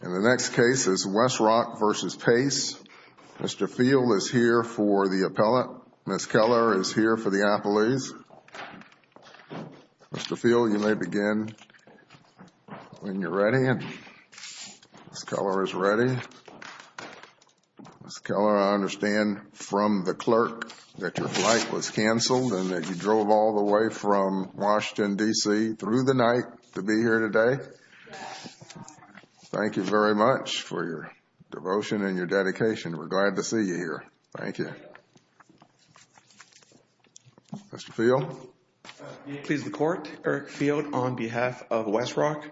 In the next case is Westrock v. Pace. Mr. Field is here for the appellate. Ms. Keller is here for the appellees. Mr. Field, you may begin when you're ready. Ms. Keller is ready. Ms. Keller, I understand from the clerk that your flight was canceled and that you missed your flight today. Thank you very much for your devotion and your dedication. We're glad to see you here. Thank you. Mr. Field? May it please the Court, Eric Field on behalf of Westrock.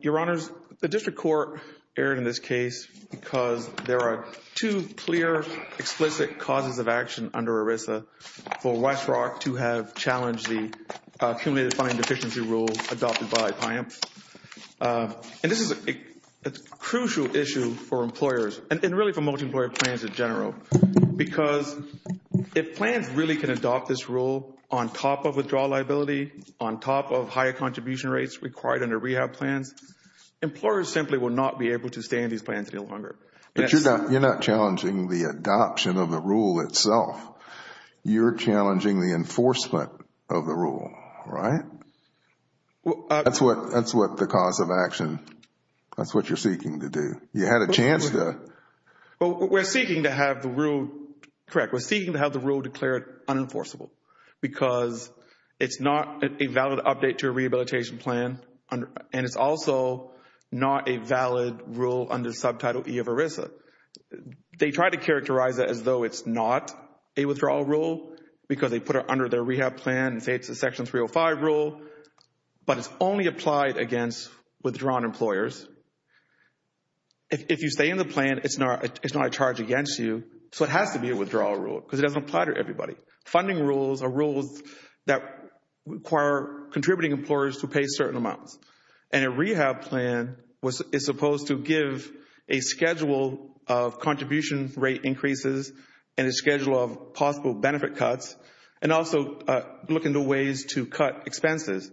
Your Honors, the District Court erred in this case because there are two clear, explicit causes of action under ERISA for employment. This is a crucial issue for employers and really for multi-employer plans in general because if plans really can adopt this rule on top of withdrawal liability, on top of higher contribution rates required under rehab plans, employers simply will not be able to stay in these plans any longer. But you're not challenging the adoption of the rule, right? That's what the cause of action, that's what you're seeking to do. You had a chance to... We're seeking to have the rule, correct, we're seeking to have the rule declared unenforceable because it's not a valid update to a rehabilitation plan and it's also not a valid rule under subtitle E of ERISA. They try to characterize it as though it's not a withdrawal rule because they put it under their rehab plan and say it's a Section 305 rule, but it's only applied against withdrawn employers. If you stay in the plan, it's not a charge against you, so it has to be a withdrawal rule because it doesn't apply to everybody. Funding rules are rules that require contributing employers to pay certain amounts and a rehab plan is supposed to give a schedule of contribution rate increases and a schedule of possible benefit cuts and also look into ways to cut expenses.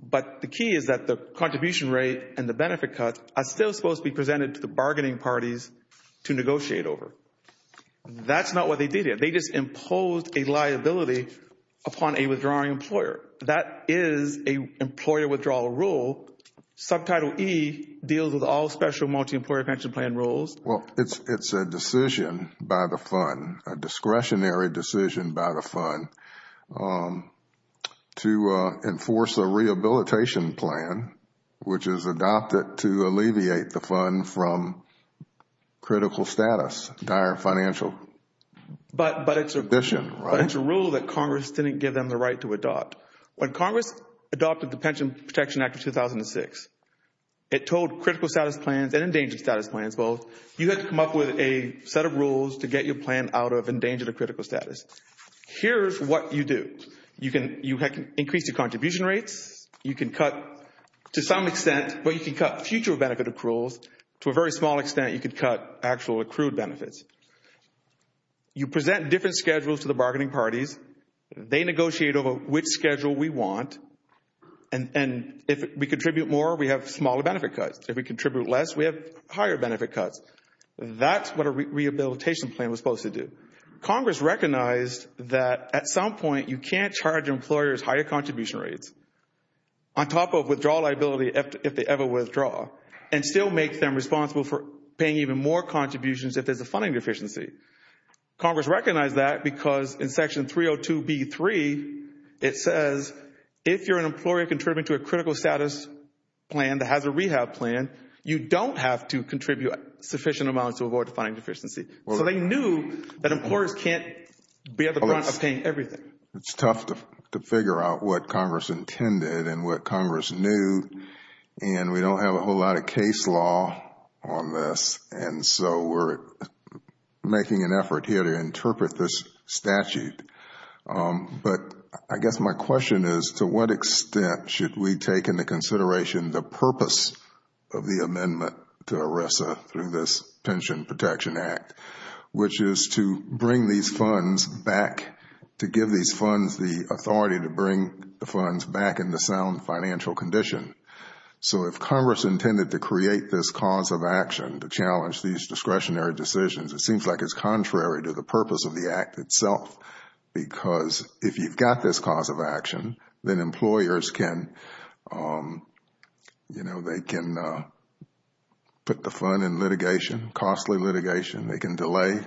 But the key is that the contribution rate and the benefit cuts are still supposed to be presented to the bargaining parties to negotiate over. That's not what they did here. They just imposed a liability upon a withdrawing employer. That is a employer withdrawal rule. Subtitle E deals with all special multi-employer pension plan rules. Well, it's a decision by the fund, a discretionary decision by the fund to enforce a rehabilitation plan which is adopted to alleviate the fund from critical status, dire financial condition. But it's a rule that Congress didn't give them the right to adopt. When Congress adopted the Pension Protection Act of 2006, it told critical status plans and endangered status plans both. You had to come up with a set of rules to get your plan out of endangered or critical status. Here's what you do. You can increase the contribution rates. You can cut to some extent, but you can cut future benefit accruals. To a very small extent, you can cut actual accrued benefits. You present different schedules to the bargaining parties. They negotiate over which schedule we want and if we contribute more, we have smaller benefit cuts. That's what a rehabilitation plan was supposed to do. Congress recognized that at some point, you can't charge employers higher contribution rates on top of withdrawal liability if they ever withdraw and still make them responsible for paying even more contributions if there's a funding deficiency. Congress recognized that because in Section 302B3, it says if you're an employer contributing to a critical status plan that has a rehab plan, you don't have to contribute sufficient amounts to avoid a funding deficiency. So they knew that employers can't be at the front of paying everything. It's tough to figure out what Congress intended and what Congress knew and we don't have a whole lot of case law on this and so we're making an effort here to interpret this statute. But I guess my question is to what extent should we take into consideration the purpose of the amendment to ERISA through this Pension Protection Act, which is to bring these funds back, to give these funds the authority to bring the funds back in the sound financial condition. So if Congress intended to create this cause of action to challenge these discretionary decisions, it seems like it's contrary to the purpose of the Act itself because if you've got this cause of action, then employers can, you know, they can put the fund in litigation, costly litigation. They can delay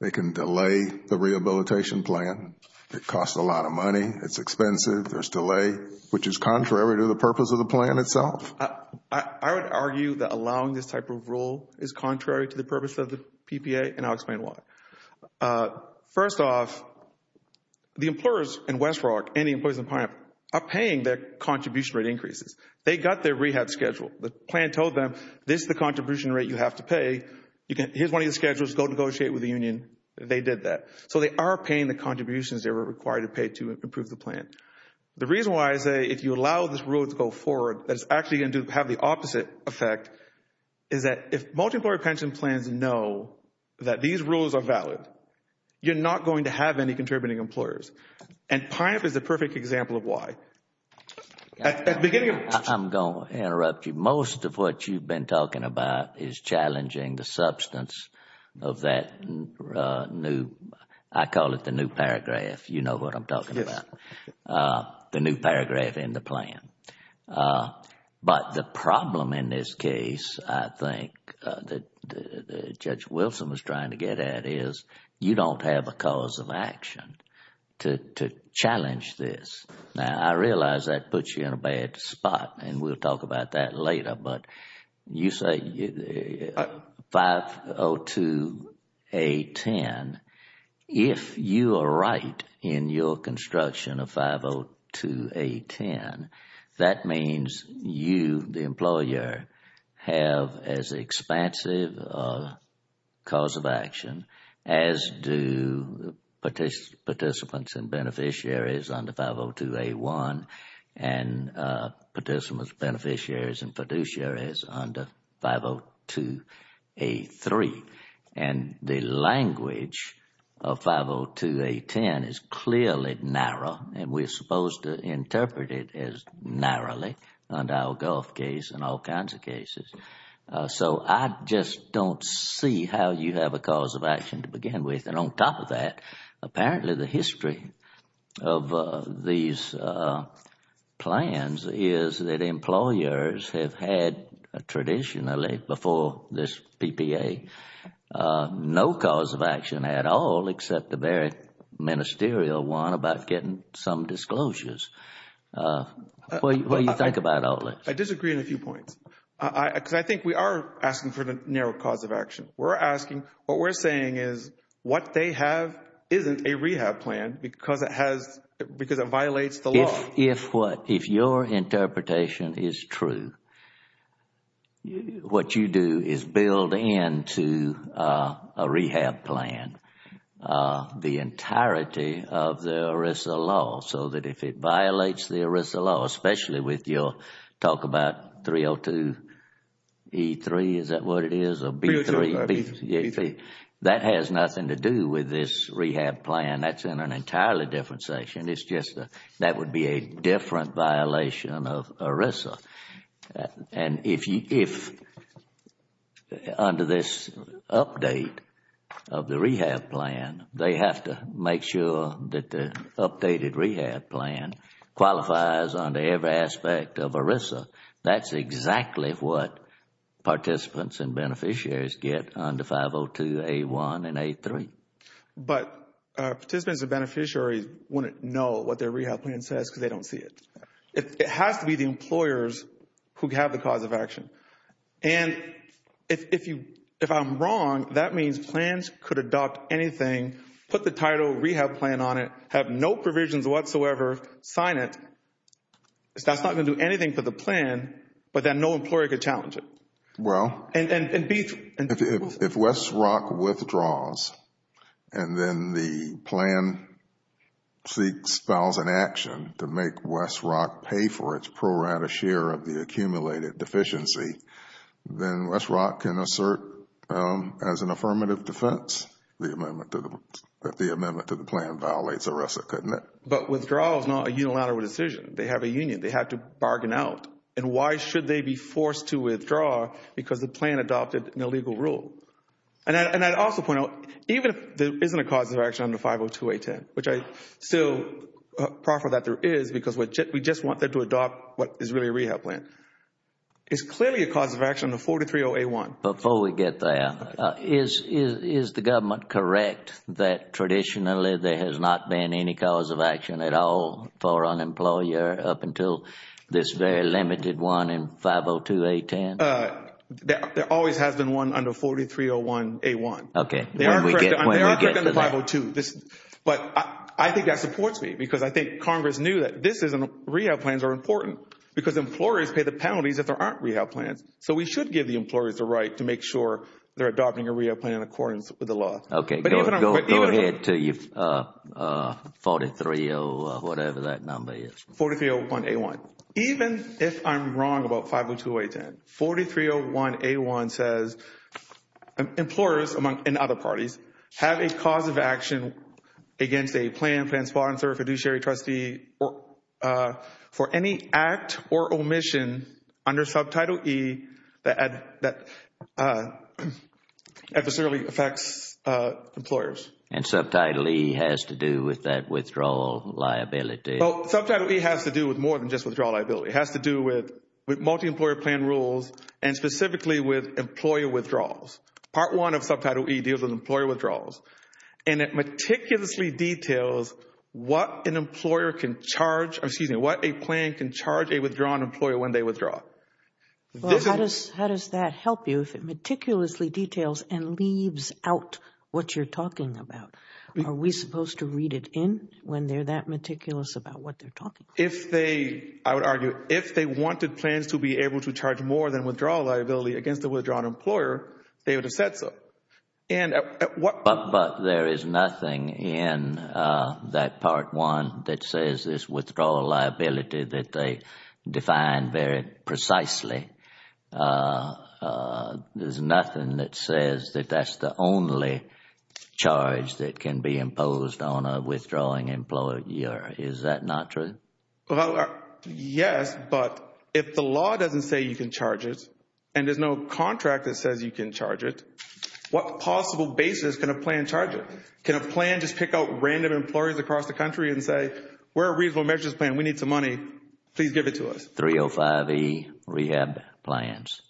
the rehabilitation plan. It costs a lot of money. It's expensive. There's delay, which is contrary to the purpose of the plan itself. I would argue that allowing this type of rule is contrary to the purpose of the PPA and I'll explain why. First off, the employers in West Rock and the employers in Pineapple are paying their contribution rate increases. They got their rehab schedule. The plan told them this is the contribution rate you have to pay. Here's one of your schedules. Go negotiate with the union. They did that. So they are paying the contributions they were required to pay to improve the plan. The reason why I say if you allow this rule to go forward, that it's actually going to have the opposite effect, is that if multi-employer pension plans know that these rules are valid, you're not going to have any contributing employers. And Pineapple is the perfect example of why. I'm going to interrupt you. Most of what you've been talking about is challenging the substance of that new, I call it the new paragraph. You know what I'm talking about. The new paragraph in the plan. But the problem in this case, I think, that Judge Wilson was trying to get at is you don't have a cause of action to challenge this. Now, I realize that puts you in a bad spot and we'll talk about that later, but you say 502A10. If you are right in your 502A10, that means you, the employer, have as expansive a cause of action as do participants and beneficiaries under 502A1 and participants, beneficiaries and fiduciaries under 502A3. And the language of 502A10 is clearly narrow and we're supposed to interpret it as narrow under our Gulf case and all kinds of cases. So I just don't see how you have a cause of action to begin with. And on top of that, apparently the history of these plans is that employers have had traditionally, before this PPA, no cause of action at all except the very ministerial one about getting some disclosures. What do you think about all this? I disagree on a few points. Because I think we are asking for the narrow cause of action. We're asking, what we're saying is what they have isn't a rehab plan because it has, because it violates the law. If what, if your interpretation is true, what you do is build into a rehab plan. These are the entirety of the ERISA law. So that if it violates the ERISA law, especially with your talk about 302E3, is that what it is, or B3, that has nothing to do with this rehab plan. That's in an entirely different section. It's just that would be a different violation of ERISA. And if, under this update of the rehab plan, they have to have a different make sure that the updated rehab plan qualifies under every aspect of ERISA, that's exactly what participants and beneficiaries get under 502A1 and A3. But participants and beneficiaries wouldn't know what their rehab plan says because they don't see it. It has to be the employers who have the cause of action. And if I'm wrong, that means plans could adopt anything, put the title rehab plan on it, have no provisions whatsoever, sign it. That's not going to do anything for the plan, but then no employer could challenge it. Well, And B3. If West Rock withdraws and then the plan seeks files and action to make West Rock pay for its pro rata share of the accumulated deficiency, then West Rock can assert as an affirmative defense that the amendment to the plan violates ERISA, couldn't it? But withdrawal is not a unilateral decision. They have a union. They have to bargain out. And why should they be forced to withdraw? Because the plan adopted an illegal rule. And I'd also point out, even if there isn't a cause of action under 502A10, which I still proffer that there is because we just want them to adopt what is really a rehab plan, is clearly a cause of action under 430A1. Before we get there, is the government correct that traditionally there has not been any cause of action at all for an employer up until this very limited one in 502A10? There always has been one under 4301A1. Okay. They are correct under 502. But I think that supports me because I think Congress knew that rehab plans are important because employers pay the penalties if there aren't rehab plans. So we should give the employers the right to make sure they're adopting a rehab plan in accordance with the law. Okay. Go ahead to 430 whatever that number is. 4301A1. Even if I'm wrong about 502A10, 4301A1 says employers, among other parties, have a cause of action against a plan, plan sponsor, fiduciary trustee, or for any act or omission under Subtitle E that adversarially affects employers. And Subtitle E has to do with that withdrawal liability. Well, Subtitle E has to do with more than just withdrawal liability. It has to do with multi-employer plan rules and specifically with employer withdrawals. Part 1 of Subtitle E deals with employer withdrawals. And it meticulously details what an employer can charge, excuse me, what a plan can charge a withdrawn employer when they withdraw. Well, how does that help you if it meticulously details and leaves out what you're talking about? Are we supposed to read it in when they're that meticulous about what they're talking about? If they, I would argue, if they wanted plans to be able to charge more than withdrawal liability against a withdrawn employer, they would have said so. But there is nothing in that Part 1 that says there's withdrawal liability that they define very precisely. There's nothing that says that that's the only charge that can be imposed on a withdrawing employer. Is that not true? Well, yes, but if the law doesn't say you can charge it and there's no contract that says you can charge it, what possible basis can a plan charge it? Can a plan just pick out random employers across the country and say, we're a reasonable measures plan, we need some money, please give it to us? 305E rehab plans.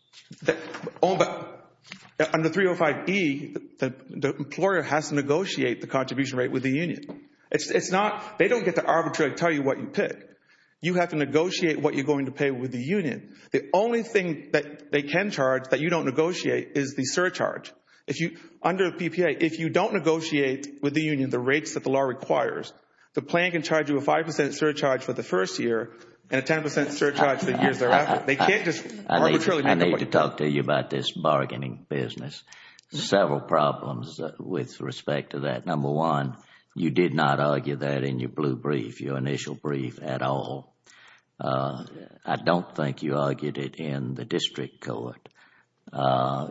Under 305E, the employer has to negotiate the contribution rate with the union. It's not, they don't get to arbitrarily tell you what you pick. You have to negotiate what you're going to pay with the union. The only thing that they can charge that you don't negotiate is the surcharge. Under PPA, if you don't negotiate with the union the rates that the law requires, the plan can charge you a 5% surcharge for the first year and a 10% surcharge the years thereafter. They can't just arbitrarily. I need to talk to you about this bargaining business. Several problems with respect to that. Number one, you did not argue that in your blue brief, your initial brief at all. I don't think you argued it in the district court.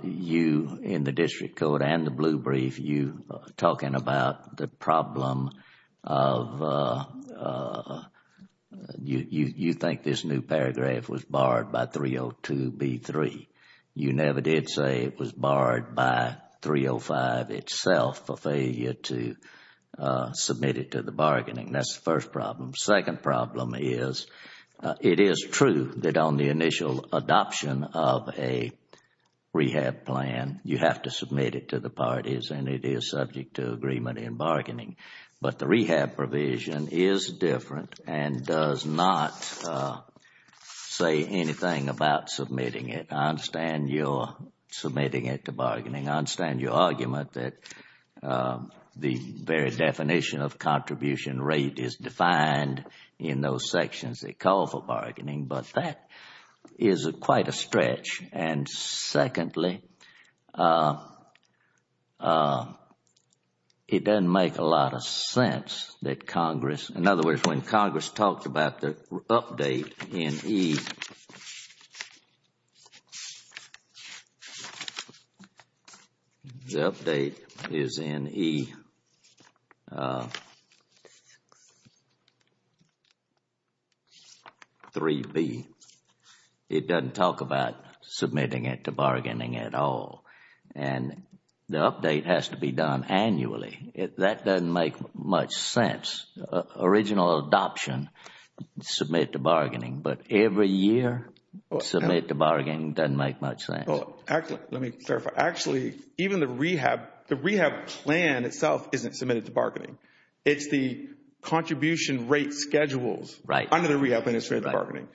You in the district court and the blue brief, you talking about the problem of... you think this new paragraph was barred by 302B3. You never did say it was barred by 305 itself for failure to submit it to the bargaining. That's the first problem. Second problem is it is true that on the initial adoption of a rehab plan, you have to submit it to the parties and it is subject to agreement and bargaining. But the rehab provision is different and does not say anything about submitting it. I understand you are submitting it to bargaining. I understand your argument that the very definition of contribution rate is defined in those sections that call for bargaining. But that is quite a stretch. And secondly, it doesn't make a lot of sense that Congress... in other words, when Congress talked about the update in E3B, it doesn't talk about submitting it to bargaining at all and the update has to be done annually. That doesn't make much sense. Congress' original adoption, submit to bargaining, but every year, submit to bargaining doesn't make much sense. Well, actually, let me clarify. Actually, even the rehab plan itself isn't submitted to bargaining. It's the contribution rate schedules under the Rehab Administrative Bargaining.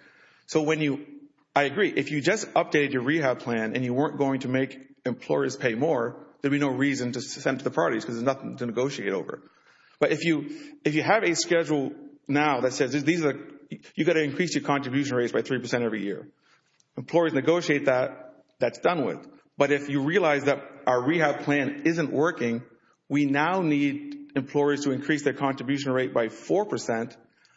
So when you... I agree, if you just updated your rehab plan and you weren't going to make employers pay more, there'd be no reason to send it to the parties because there's nothing to negotiate over. But if you have a schedule now that says you've got to increase your contribution rates by three percent every year, employers negotiate that, that's done with. But if you realize that our rehab plan isn't working, we now need employers to increase their contribution rate by four percent.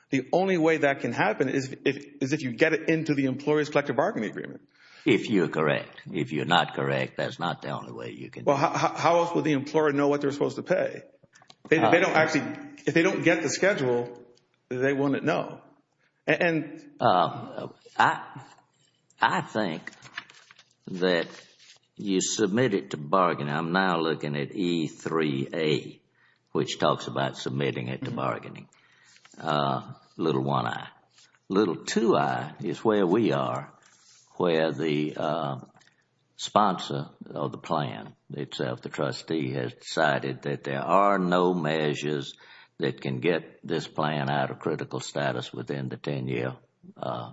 The only way that can happen is if you get it into the employer's collective bargaining agreement. If you're correct. If you're not correct, that's not the only way you can... Well, how else would the employer know what they're supposed to pay? They don't actually... if they don't get the schedule, they wouldn't know. And... I think that you submit it to bargaining. I'm now looking at E3A, which talks about submitting it to bargaining, little 1I. Little 2I is where we are, where the sponsor of the plan itself, the trustee, has decided that there are no measures that can get this plan out of critical status within the 10-year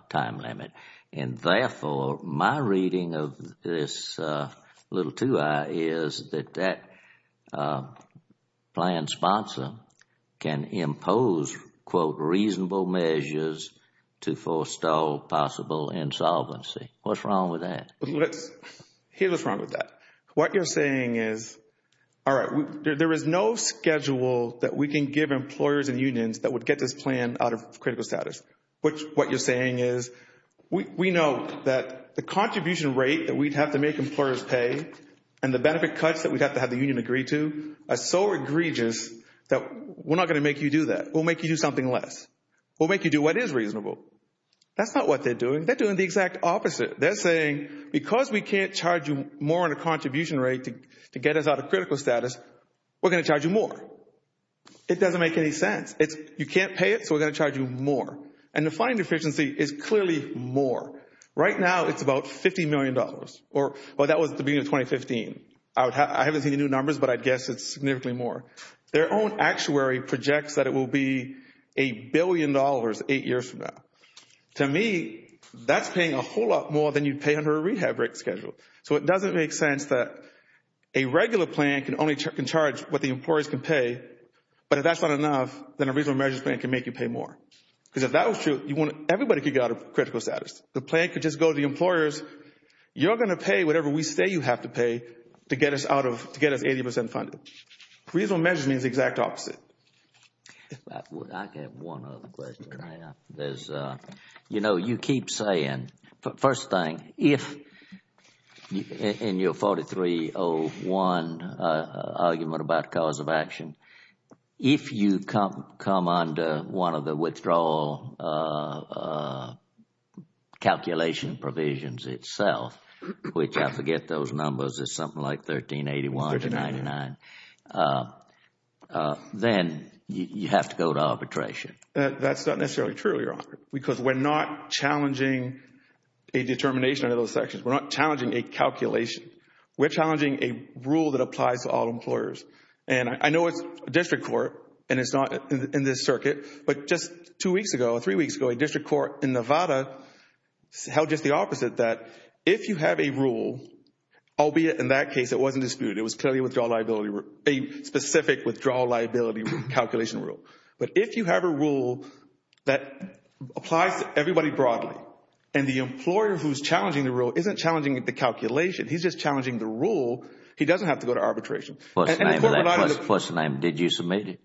time limit. And therefore, my reading of this little 2I is that that plan sponsor can impose, quote, reasonable measures to forestall possible insolvency. What's wrong with that? What's... here's what's wrong with that. What you're saying is, all right, there is no schedule that we can give employers and unions that would get this plan out of critical status. What you're saying is, we know that the contribution rate that we'd have to make employers pay and the benefit cuts that we'd have to have the union agree to are so egregious that we're not going to make you do that. We'll make you do something less. We'll make you do what is reasonable. That's not what they're doing. They're doing the exact opposite. They're saying, because we can't charge you more on a contribution rate to get us out of critical status, we're going to charge you more. It doesn't make any sense. You can't pay it, so we're going to charge you more. And the funding deficiency is clearly more. Right now, it's about $50 million. Or that was the beginning of 2015. I haven't seen the new numbers, but I'd guess it's significantly more. Their own actuary projects that it will be a billion dollars eight years from now. To me, that's paying a whole lot more than you'd pay under a rehab rate schedule. So it doesn't make sense that a regular plan can only charge what the employers can pay, but if that's not enough, then a reasonable measures plan can make you pay more. Because if that was true, everybody could get out of critical status. The plan could just go to the employers, you're going to pay whatever we say you have to pay to get us 80% funded. Reasonable measures means the exact opposite. I have one other question. You know, you keep saying, first thing, if in your 4301 argument about cause of action, if you come under one of the withdrawal calculation provisions itself, which I forget those numbers, it's something like 1381 to 99, then you have to go to arbitration. That's not necessarily true, Your Honor, because we're not challenging a determination under those sections. We're not challenging a calculation. We're challenging a rule that applies to all employers. And I know it's district court, and it's not in this circuit, but just two weeks ago, three weeks ago, a district court in Nevada held just the opposite. If you have a rule, albeit in that case, it wasn't disputed, it was clearly a specific withdrawal liability calculation rule. But if you have a rule that applies to everybody broadly, and the employer who's challenging the rule isn't challenging the calculation, he's just challenging the rule, he doesn't have to go to arbitration. And the court relied on the... First name, did you submit it?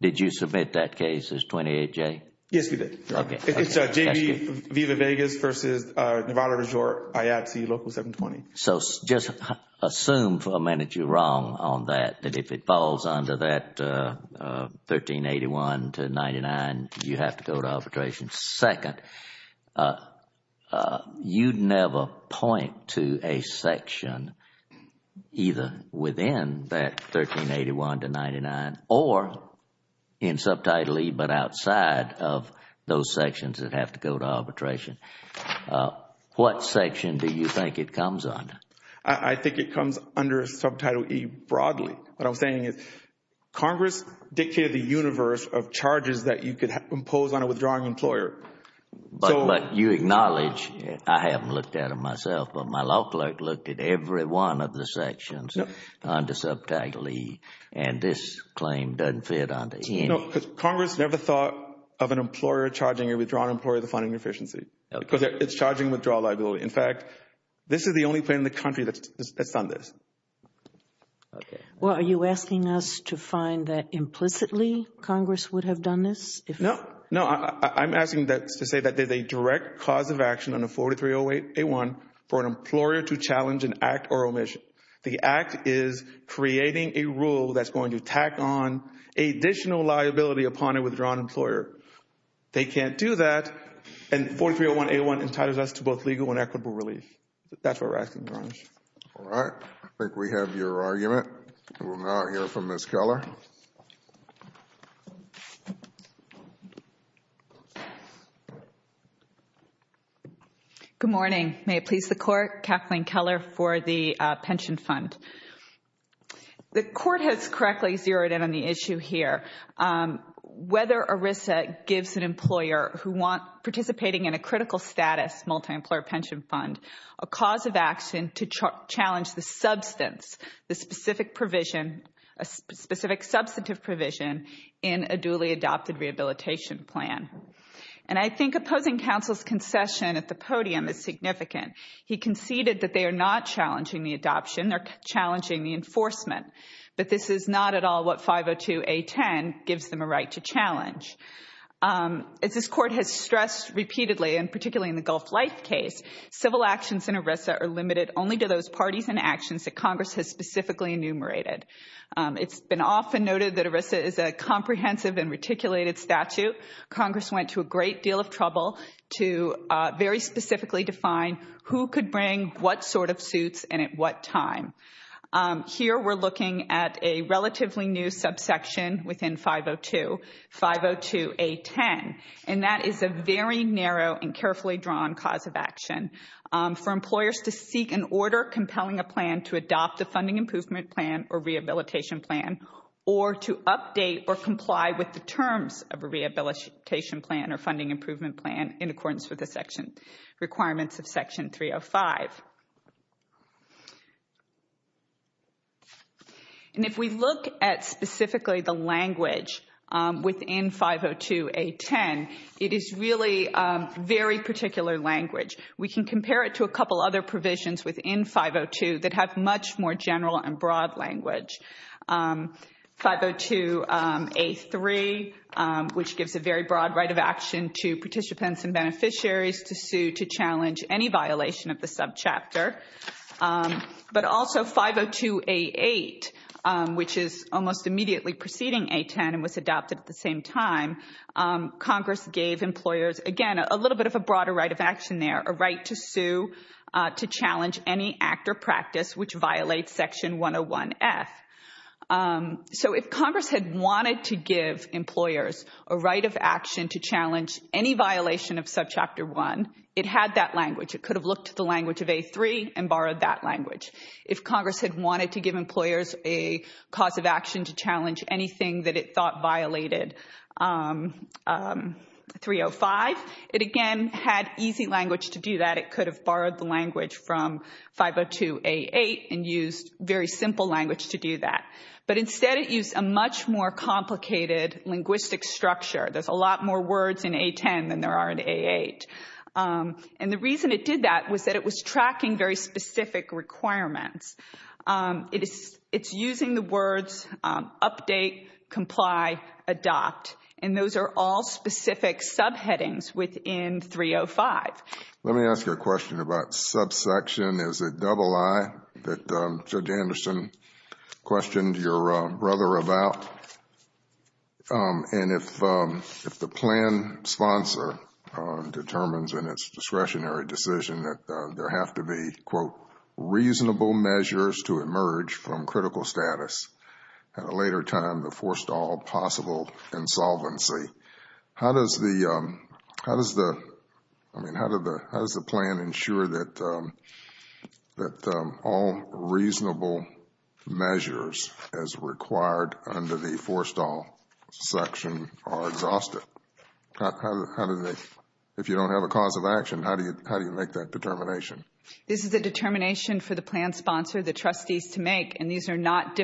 Did you submit that case, this 28J? Yes, we did. Okay. It's J.B. Viva Vegas v. Nevada du Jour, IATSE, Local 720. So just assume for a minute you're wrong on that, that if it falls under that 1381 to 99, you have to go to arbitration. Second, you'd never point to a section either within that 1381 to 99, or in subtitly, but outside of those sections that have to go to arbitration. What section do you think it comes under? I think it comes under subtitle E broadly. What I'm saying is Congress dictated the universe of charges that you could impose on a withdrawing employer. But you acknowledge, I haven't looked at it myself, but my law clerk looked at every one of the sections under subtitle E, and this claim doesn't fit under any. No, because Congress never thought of an employer charging a withdrawing employer the funding deficiency, because it's charging withdrawal liability. In fact, this is the only plan in the country that's done this. Okay. Well, are you asking us to find that implicitly Congress would have done this? No. No, I'm asking to say that there's a direct cause of action under 4308A1 for an employer to challenge an act or omission. The act is creating a rule that's going to tack on additional liability upon a withdrawn employer. They can't do that, and 4301A1 entitles us to both legal and equitable relief. That's what we're asking, Your Honor. All right. I think we have your argument. We will now hear from Ms. Keller. Good morning. May it please the Court, Kathleen Keller for the Pension Fund. The Court has correctly zeroed in on the issue here, whether ERISA gives an employer who want participating in a critical status multi-employer pension fund a cause of action to challenge the substance, the specific provision, a specific substantive provision in a duly adopted rehabilitation plan. And I think opposing counsel's concession at the podium is significant. He conceded that they are not challenging the adoption, they're challenging the enforcement. But this is not at all what 502A10 gives them a right to challenge. This Court has stressed repeatedly, and particularly in the Gulf Life case, civil actions in ERISA are limited only to those parties and actions that Congress has specifically enumerated. It's been often noted that ERISA is a comprehensive and reticulated statute. Congress went to a great deal of trouble to very specifically define who could bring what sort of suits and at what time. Here we're looking at a relatively new subsection within 502, 502A10, and that is a very narrow and carefully drawn cause of action for employers to seek an order compelling a plan to adopt the funding improvement plan or rehabilitation plan or to update or comply with the terms of a rehabilitation plan or funding improvement plan in accordance with the section requirements of section 305. And if we look at specifically the language within 502A10, it is really very particular language. We can compare it to a couple other provisions within 502 that have much more general and broad language. 502A3, which gives a very broad right of action to participants and beneficiaries to sue to challenge any violation of the subchapter. But also 502A8, which is almost immediately preceding A10 and was adopted at the same time, Congress gave employers, again, a little bit of a broader right of action there, a So if Congress had wanted to give employers a right of action to challenge any violation of subchapter 1, it had that language. It could have looked at the language of A3 and borrowed that language. If Congress had wanted to give employers a cause of action to challenge anything that it thought violated 305, it again had easy language to do that. It could have borrowed the language from 502A8 and used very simple language to do that. But instead it used a much more complicated linguistic structure. There's a lot more words in A10 than there are in A8. And the reason it did that was that it was tracking very specific requirements. It's using the words update, comply, adopt, and those are all specific subheadings within 305. Let me ask you a question about subsection. Is it double I that Judge Anderson questioned your brother about? And if the plan sponsor determines in its discretionary decision that there have to be, quote, reasonable measures to emerge from critical status, at a later time, the forced all possible insolvency. How does the plan ensure that all reasonable measures as required under the forced all section are exhausted? If you don't have a cause of action, how do you make that determination? This is a determination for the plan sponsor, the trustees, to make. And these are not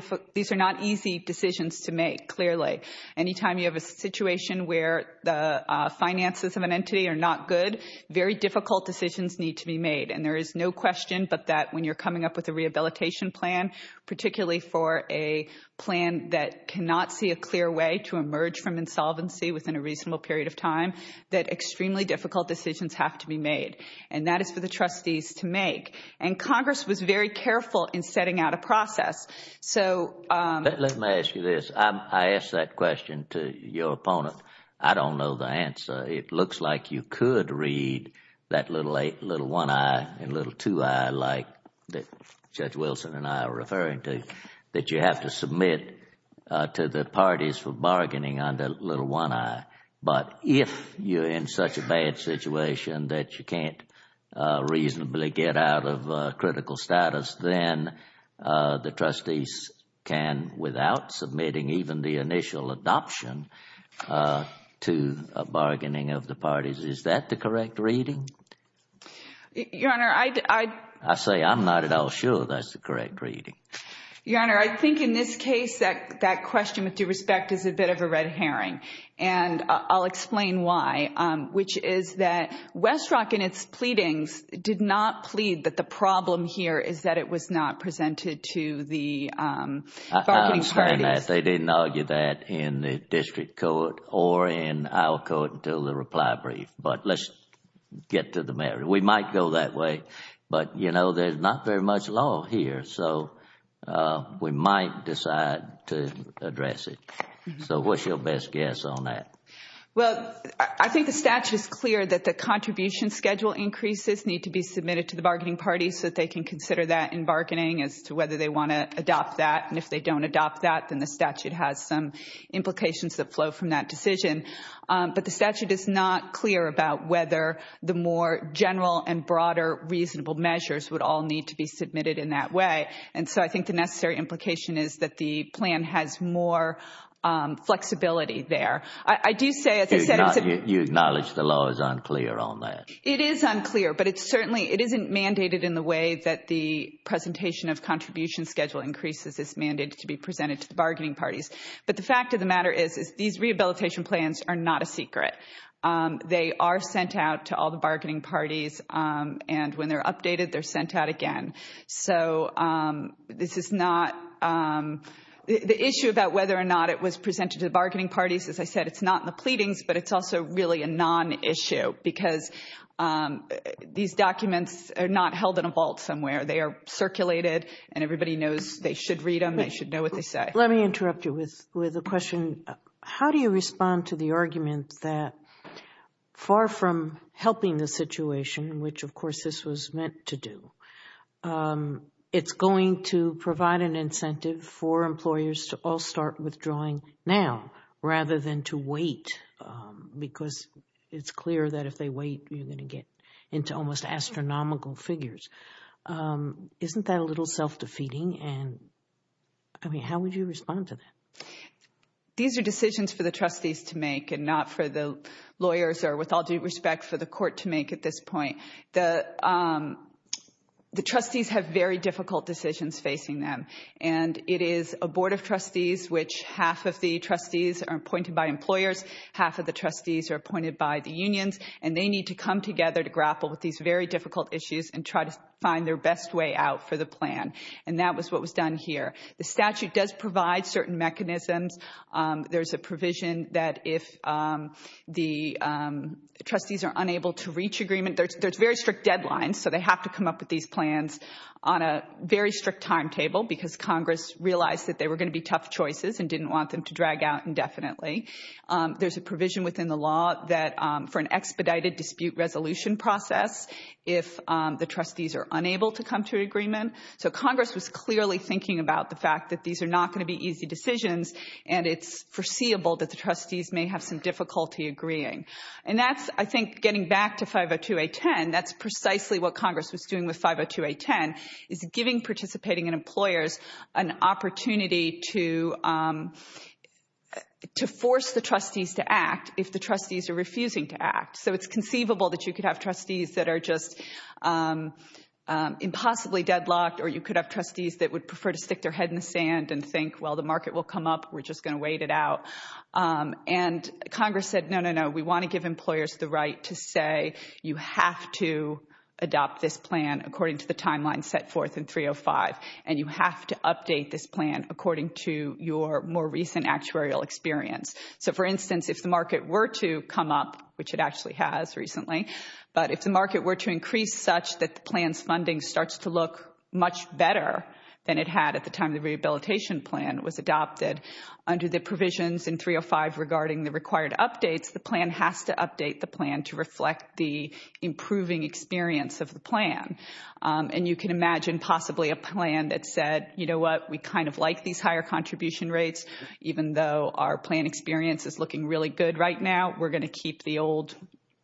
easy decisions to make, clearly. Anytime you have a situation where the finances of an entity are not good, very difficult decisions need to be made. And there is no question but that when you're coming up with a rehabilitation plan, particularly for a plan that cannot see a clear way to emerge from insolvency within a reasonable period of time, that extremely difficult decisions have to be made. And that is for the trustees to make. And Congress was very careful in setting out a process. So Let me ask you this. I asked that question to your opponent. I don't know the answer. It looks like you could read that little one eye and little two eye like Judge Wilson and I are referring to, that you have to submit to the parties for bargaining under little one eye. But if you're in such a bad situation that you can't reasonably get out of critical status, then the trustees can, without submitting even the initial adoption to a bargaining of the parties. Is that the correct reading? Your Honor, I I say I'm not at all sure that's the correct reading. Your Honor, I think in this case that question, with due respect, is a bit of a red herring. And I'll explain why, which is that Westrock in its pleadings did not plead that the problem here is that it was not presented to the bargaining parties. I understand that. They didn't argue that in the district court or in our court until the reply brief. But let's get to the matter. We might go that way. But you know, there's not very much law here. So we might decide to address it. So what's your best guess on that? Well, I think the statute is clear that the contribution schedule increases need to be considered that in bargaining as to whether they want to adopt that. And if they don't adopt that, then the statute has some implications that flow from that decision. But the statute is not clear about whether the more general and broader reasonable measures would all need to be submitted in that way. And so I think the necessary implication is that the plan has more flexibility there. I do say, as I said, You acknowledge the law is unclear on that. It is unclear. But it's certainly it isn't mandated in the way that the presentation of contribution schedule increases is mandated to be presented to the bargaining parties. But the fact of the matter is, is these rehabilitation plans are not a secret. They are sent out to all the bargaining parties. And when they're updated, they're sent out again. So this is not the issue about whether or not it was presented to the bargaining parties. As I said, it's not in the pleadings, but it's also really a non-issue because these documents are not held in a vault somewhere. They are circulated and everybody knows they should read them. They should know what they say. Let me interrupt you with a question. How do you respond to the argument that far from helping the situation, which of course this was meant to do, it's going to provide an incentive for employers to all start withdrawing now rather than to wait? Because it's clear that if they wait, you're going to get into almost astronomical figures. Isn't that a little self-defeating? And I mean, how would you respond to that? These are decisions for the trustees to make and not for the lawyers or with all due respect for the court to make at this point. The trustees have very difficult decisions facing them. And it is a board of trustees which half of the trustees are appointed by employers, half of the trustees are appointed by the unions, and they need to come together to grapple with these very difficult issues and try to find their best way out for the plan. And that was what was done here. The statute does provide certain mechanisms. There's a provision that if the trustees are unable to reach agreement, there's very strict deadlines, so they have to come up with these plans on a very strict timetable because Congress realized that they were going to be tough choices and didn't want them to drag out indefinitely. There's a provision within the law that for an expedited dispute resolution process, if the trustees are unable to come to an agreement, so Congress was clearly thinking about the fact that these are not going to be easy decisions and it's foreseeable that the trustees may have some difficulty agreeing. And that's, I think, getting back to 502A10, that's precisely what Congress was doing with 502A10, is giving participating employers an opportunity to force the trustees to act if the trustees are refusing to act. So it's conceivable that you could have trustees that are just impossibly deadlocked or you could have trustees that would prefer to stick their head in the sand and think, well, the market will come up, we're just going to wait it out. And Congress said, no, no, no, we want to give employers the right to say you have to adopt this plan according to the timeline set forth in 305 and you have to update this plan according to your more recent actuarial experience. So for instance, if the market were to come up, which it actually has recently, but if the market were to increase such that the plan's funding starts to look much better than it had at the time the rehabilitation plan was adopted, under the provisions in 305 regarding the required updates, the plan has to update the plan to reflect the improving experience of the plan. And you can imagine possibly a plan that said, you know what, we kind of like these higher contribution rates, even though our plan experience is looking really good right now, we're going to keep the old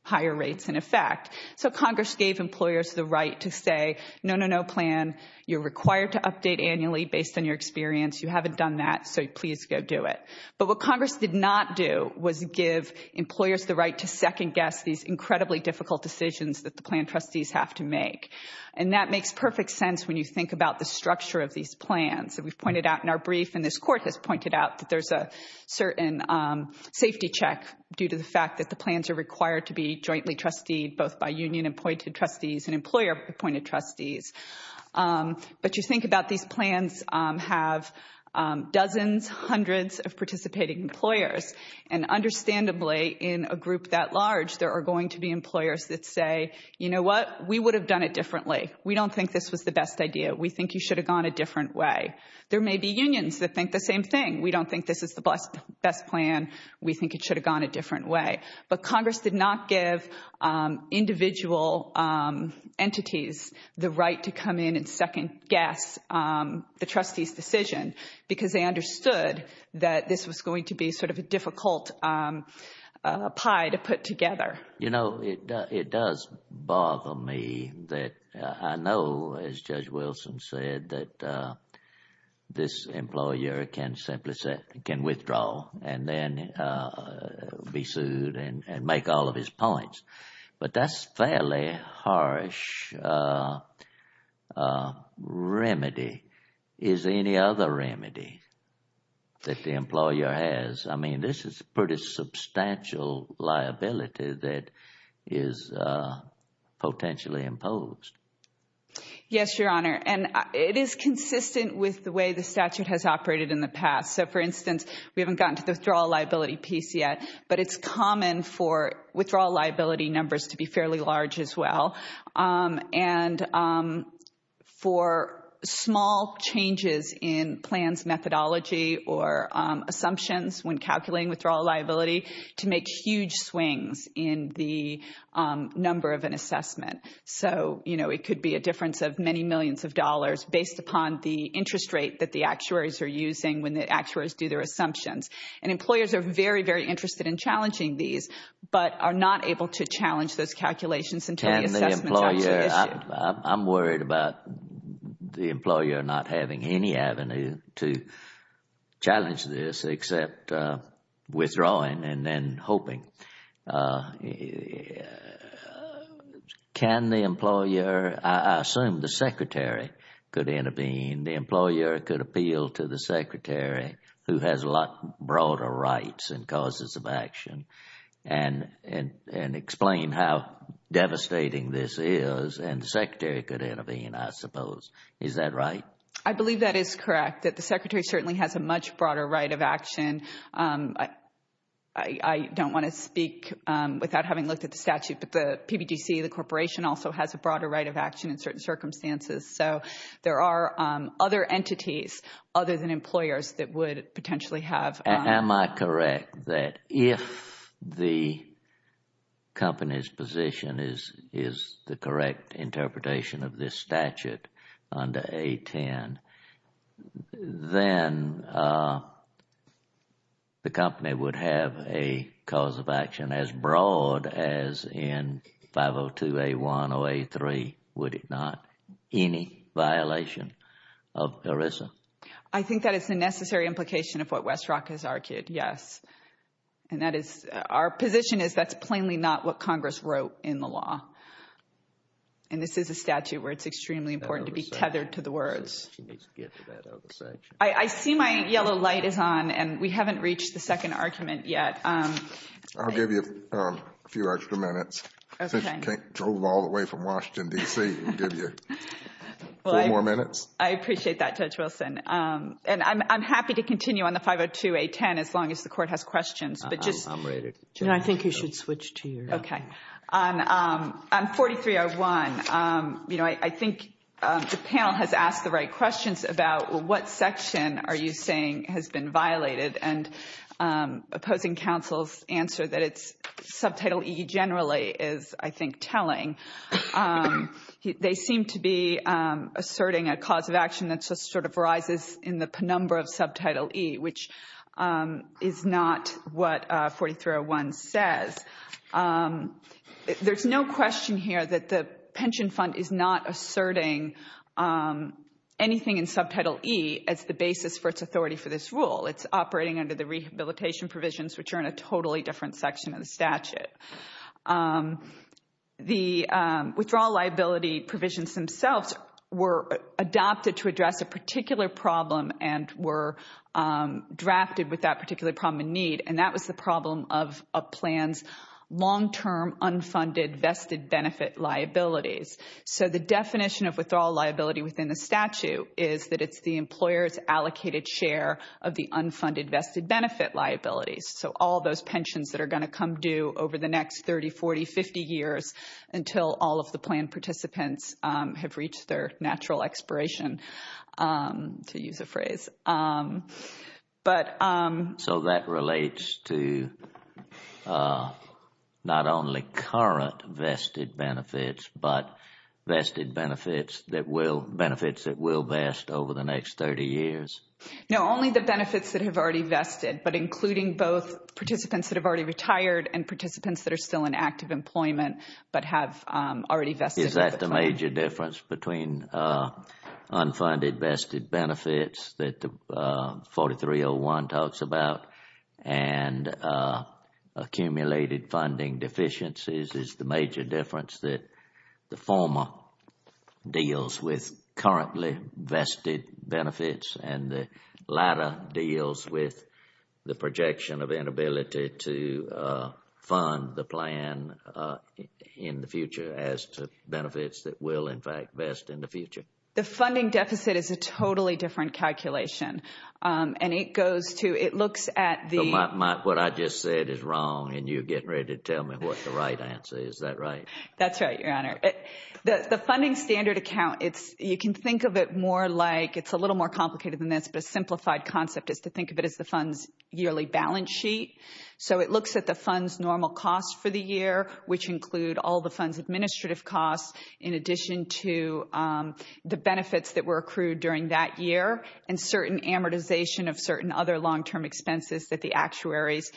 higher rates in effect. So Congress gave employers the right to say, no, no, no plan, you're required to update annually based on your experience, you haven't done that, so please go do it. But what Congress did not do was give employers the right to second guess these incredibly difficult decisions that the plan trustees have to make. And that makes perfect sense when you think about the structure of these plans that we've pointed out in our brief and this court has pointed out that there's a certain safety check due to the fact that the plans are required to be jointly trustee both by union appointed trustees and employer appointed trustees. But you think about these plans have dozens, hundreds of participating employers. And understandably, in a group that large, there are going to be employers that say, you know what, we would have done it differently. We don't think this was the best idea. We think you should have gone a different way. There may be unions that think the same thing. We don't think this is the best plan. We think it should have gone a different way. But Congress did not give individual entities the right to come in and second guess the trustees' decision because they understood that this was going to be sort of a difficult pie to put together. You know, it does bother me that I know, as Judge Wilson said, that this employer can withdraw and then be sued and make all of his points. But that's a fairly harsh remedy. Is there any other remedy that the employer has? I mean, this is a pretty substantial liability that is potentially imposed. Yes, Your Honor, and it is consistent with the way the statute has operated in the past. So, for instance, we haven't gotten to the withdrawal liability piece yet, but it's common for withdrawal liability numbers to be fairly large as well. And for small changes in plans methodology or assumptions when calculating withdrawal liability to make huge swings in the number of an assessment. So, you know, it could be a difference of many millions of dollars based upon the interest rate that the actuaries are using when the actuaries do their assumptions. And employers are very, very interested in challenging these but are not able to challenge those calculations until the assessment is actually issued. I'm worried about the employer not having any avenue to challenge this except withdrawing and then hoping. Can the employer, I assume the secretary could intervene, the employer could appeal to the secretary who has a lot broader rights and causes of action and explain how devastating this is and the secretary could intervene, I suppose. Is that right? I believe that is correct, that the secretary certainly has a much broader right of action. I don't want to speak without having looked at the statute, but the PBDC, the corporation also has a broader right of action in certain circumstances. So there are other entities other than employers that would potentially have. Am I correct that if the company's position is the correct interpretation of this statute under A10, then the company would have a cause of action as broad as in 502A1 or A3, would it not? Any violation of ERISA? I think that is the necessary implication of what Westrock has argued, yes. And that is, our position is that's plainly not what Congress wrote in the law. And this is a statute where it's extremely important to be tethered to the words. I see my yellow light is on and we haven't reached the second argument yet. I'll give you a few extra minutes. Since you drove all the way from Washington, D.C., I'll give you four more minutes. Well, I appreciate that, Judge Wilson. And I'm happy to continue on the 502A10 as long as the court has questions, but just. I think you should switch to your own. Okay. On 4301, you know, I think the panel has asked the right questions about, well, what section are you saying has been violated? And opposing counsel's answer that it's subtitle E generally is, I think, telling. They seem to be asserting a cause of action that just sort of rises in the penumbra of subtitle E, which is not what 4301 says. There's no question here that the pension fund is not asserting anything in subtitle E as the basis for its authority for this rule. It's operating under the rehabilitation provisions, which are in a totally different section of the statute. The withdrawal liability provisions themselves were adopted to address a particular problem and were drafted with that particular problem in need. And that was the problem of a plan's long-term unfunded vested benefit liabilities. So the definition of withdrawal liability within the statute is that it's the employer's allocated share of the unfunded vested benefit liabilities. So all those pensions that are going to come due over the next 30, 40, 50 years until all of the plan participants have reached their natural expiration, to use a phrase. So that relates to not only current vested benefits, but vested benefits that will, benefits that will vest over the next 30 years? No, only the benefits that have already vested, but including both participants that have already retired and participants that are still in active employment, but have already vested. Is that the major difference between unfunded vested benefits that the 4301 talks about and accumulated funding deficiencies? Is the major difference that the former deals with currently vested benefits and the latter deals with the projection of inability to fund the plan in the future as to benefits that will, in fact, vest in the future? The funding deficit is a totally different calculation. And it goes to, it looks at the— So what I just said is wrong and you're getting ready to tell me what the right answer is. Is that right? That's right, Your Honor. The funding standard account, it's, you can think of it more like, it's a little more to think of it as the fund's yearly balance sheet. So it looks at the fund's normal costs for the year, which include all the fund's administrative costs in addition to the benefits that were accrued during that year and certain amortization of certain other long-term expenses that the actuaries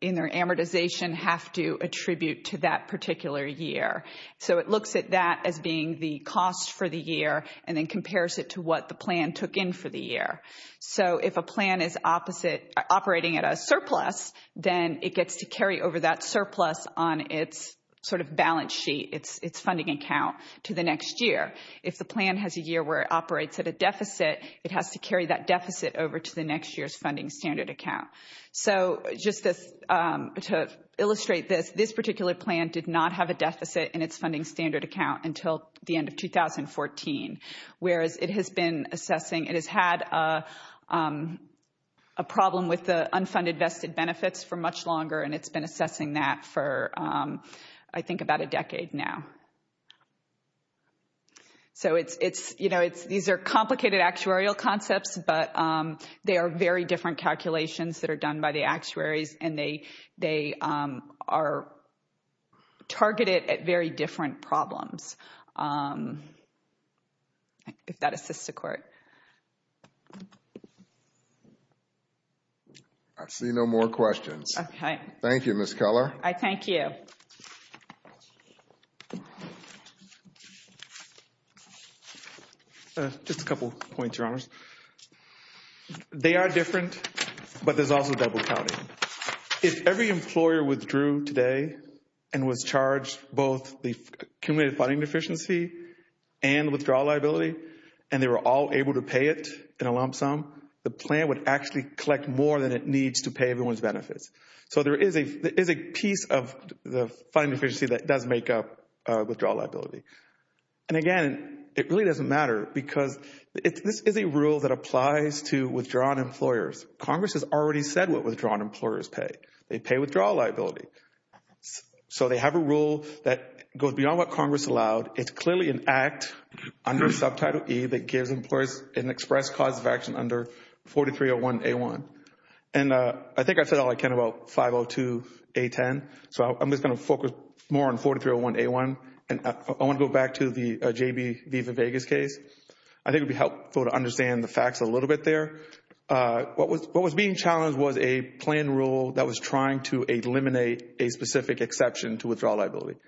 in their amortization have to attribute to that particular year. So it looks at that as being the cost for the year and then compares it to what the plan took in for the year. So if a plan is operating at a surplus, then it gets to carry over that surplus on its sort of balance sheet, its funding account, to the next year. If the plan has a year where it operates at a deficit, it has to carry that deficit over to the next year's funding standard account. So just to illustrate this, this particular plan did not have a deficit in its funding standard account until the end of 2014. Whereas it has been assessing, it has had a problem with the unfunded vested benefits for much longer and it's been assessing that for I think about a decade now. So it's, you know, these are complicated actuarial concepts, but they are very different calculations that are done by the actuaries and they are targeted at very different problems. If that assists the Court. I see no more questions. Okay. Thank you, Ms. Keller. I thank you. Just a couple points, Your Honors. They are different, but there's also double counting. If every employer withdrew today and was charged both the accumulated funding deficiency and withdrawal liability and they were all able to pay it in a lump sum, the plan would actually collect more than it needs to pay everyone's benefits. So there is a piece of the funding deficiency that does make up withdrawal liability. And again, it really doesn't matter because this is a rule that applies to withdrawn employers. Congress has already said what withdrawn employers pay. They pay withdrawal liability. So they have a rule that goes beyond what Congress allowed. It's clearly an act under Subtitle E that gives employers an express cause of action under 4301A1. And I think I said all I can about 502A10. So I'm just going to focus more on 4301A1. And I want to go back to the J.B. Viva Vegas case. I think it would be helpful to understand the facts a little bit there. What was being challenged was a plan rule that was trying to eliminate a specific exception to withdrawal liability.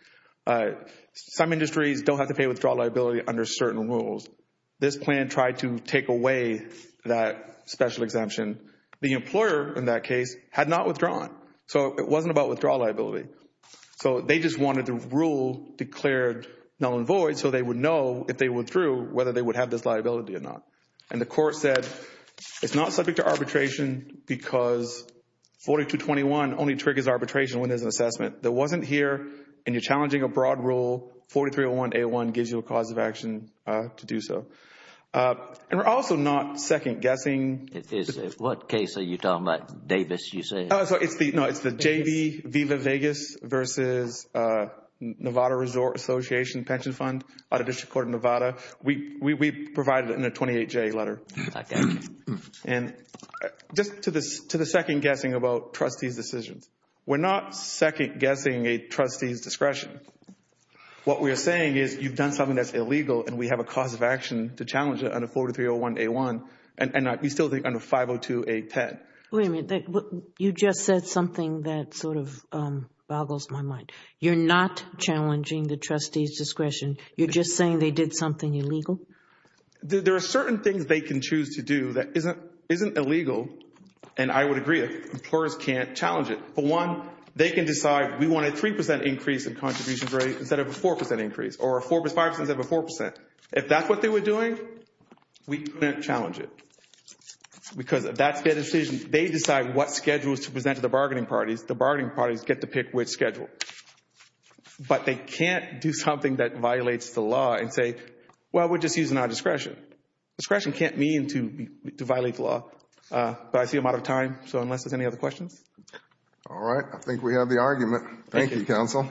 Some industries don't have to pay withdrawal liability under certain rules. This plan tried to take away that special exemption. The employer in that case had not withdrawn. So it wasn't about withdrawal liability. So they just wanted the rule declared null and void so they would know if they withdrew whether they would have this liability or not. And the court said it's not subject to arbitration because 4221 only triggers arbitration when there's an assessment. There wasn't here and you're challenging a broad rule. 4301A1 gives you a cause of action to do so. And we're also not second-guessing. It is. What case are you talking about? Davis, you say? Oh, it's the J.B. Viva Vegas versus Nevada Resort Association Pension Fund out of District Court of Nevada. We provided it in a 28-J letter. And just to the second-guessing about trustee's decisions. We're not second-guessing a trustee's discretion. What we're saying is you've done something that's illegal and we have a cause of action to challenge it under 42301A1. And we still think under 502A10. Wait a minute, you just said something that sort of boggles my mind. You're not challenging the trustee's discretion. You're just saying they did something illegal? There are certain things they can choose to do that isn't illegal. And I would agree that employers can't challenge it. For one, they can decide we want a 3% increase in contributions rate instead of a 4% increase or a 5% instead of a 4%. If that's what they were doing, we couldn't challenge it. Because that's their decision. They decide what schedules to present to the bargaining parties. The bargaining parties get to pick which schedule. But they can't do something that violates the law and say, well, we're just using our discretion. Discretion can't mean to violate the law. But I see I'm out of time. So unless there's any other questions. All right. I think we have the argument. Thank you, counsel.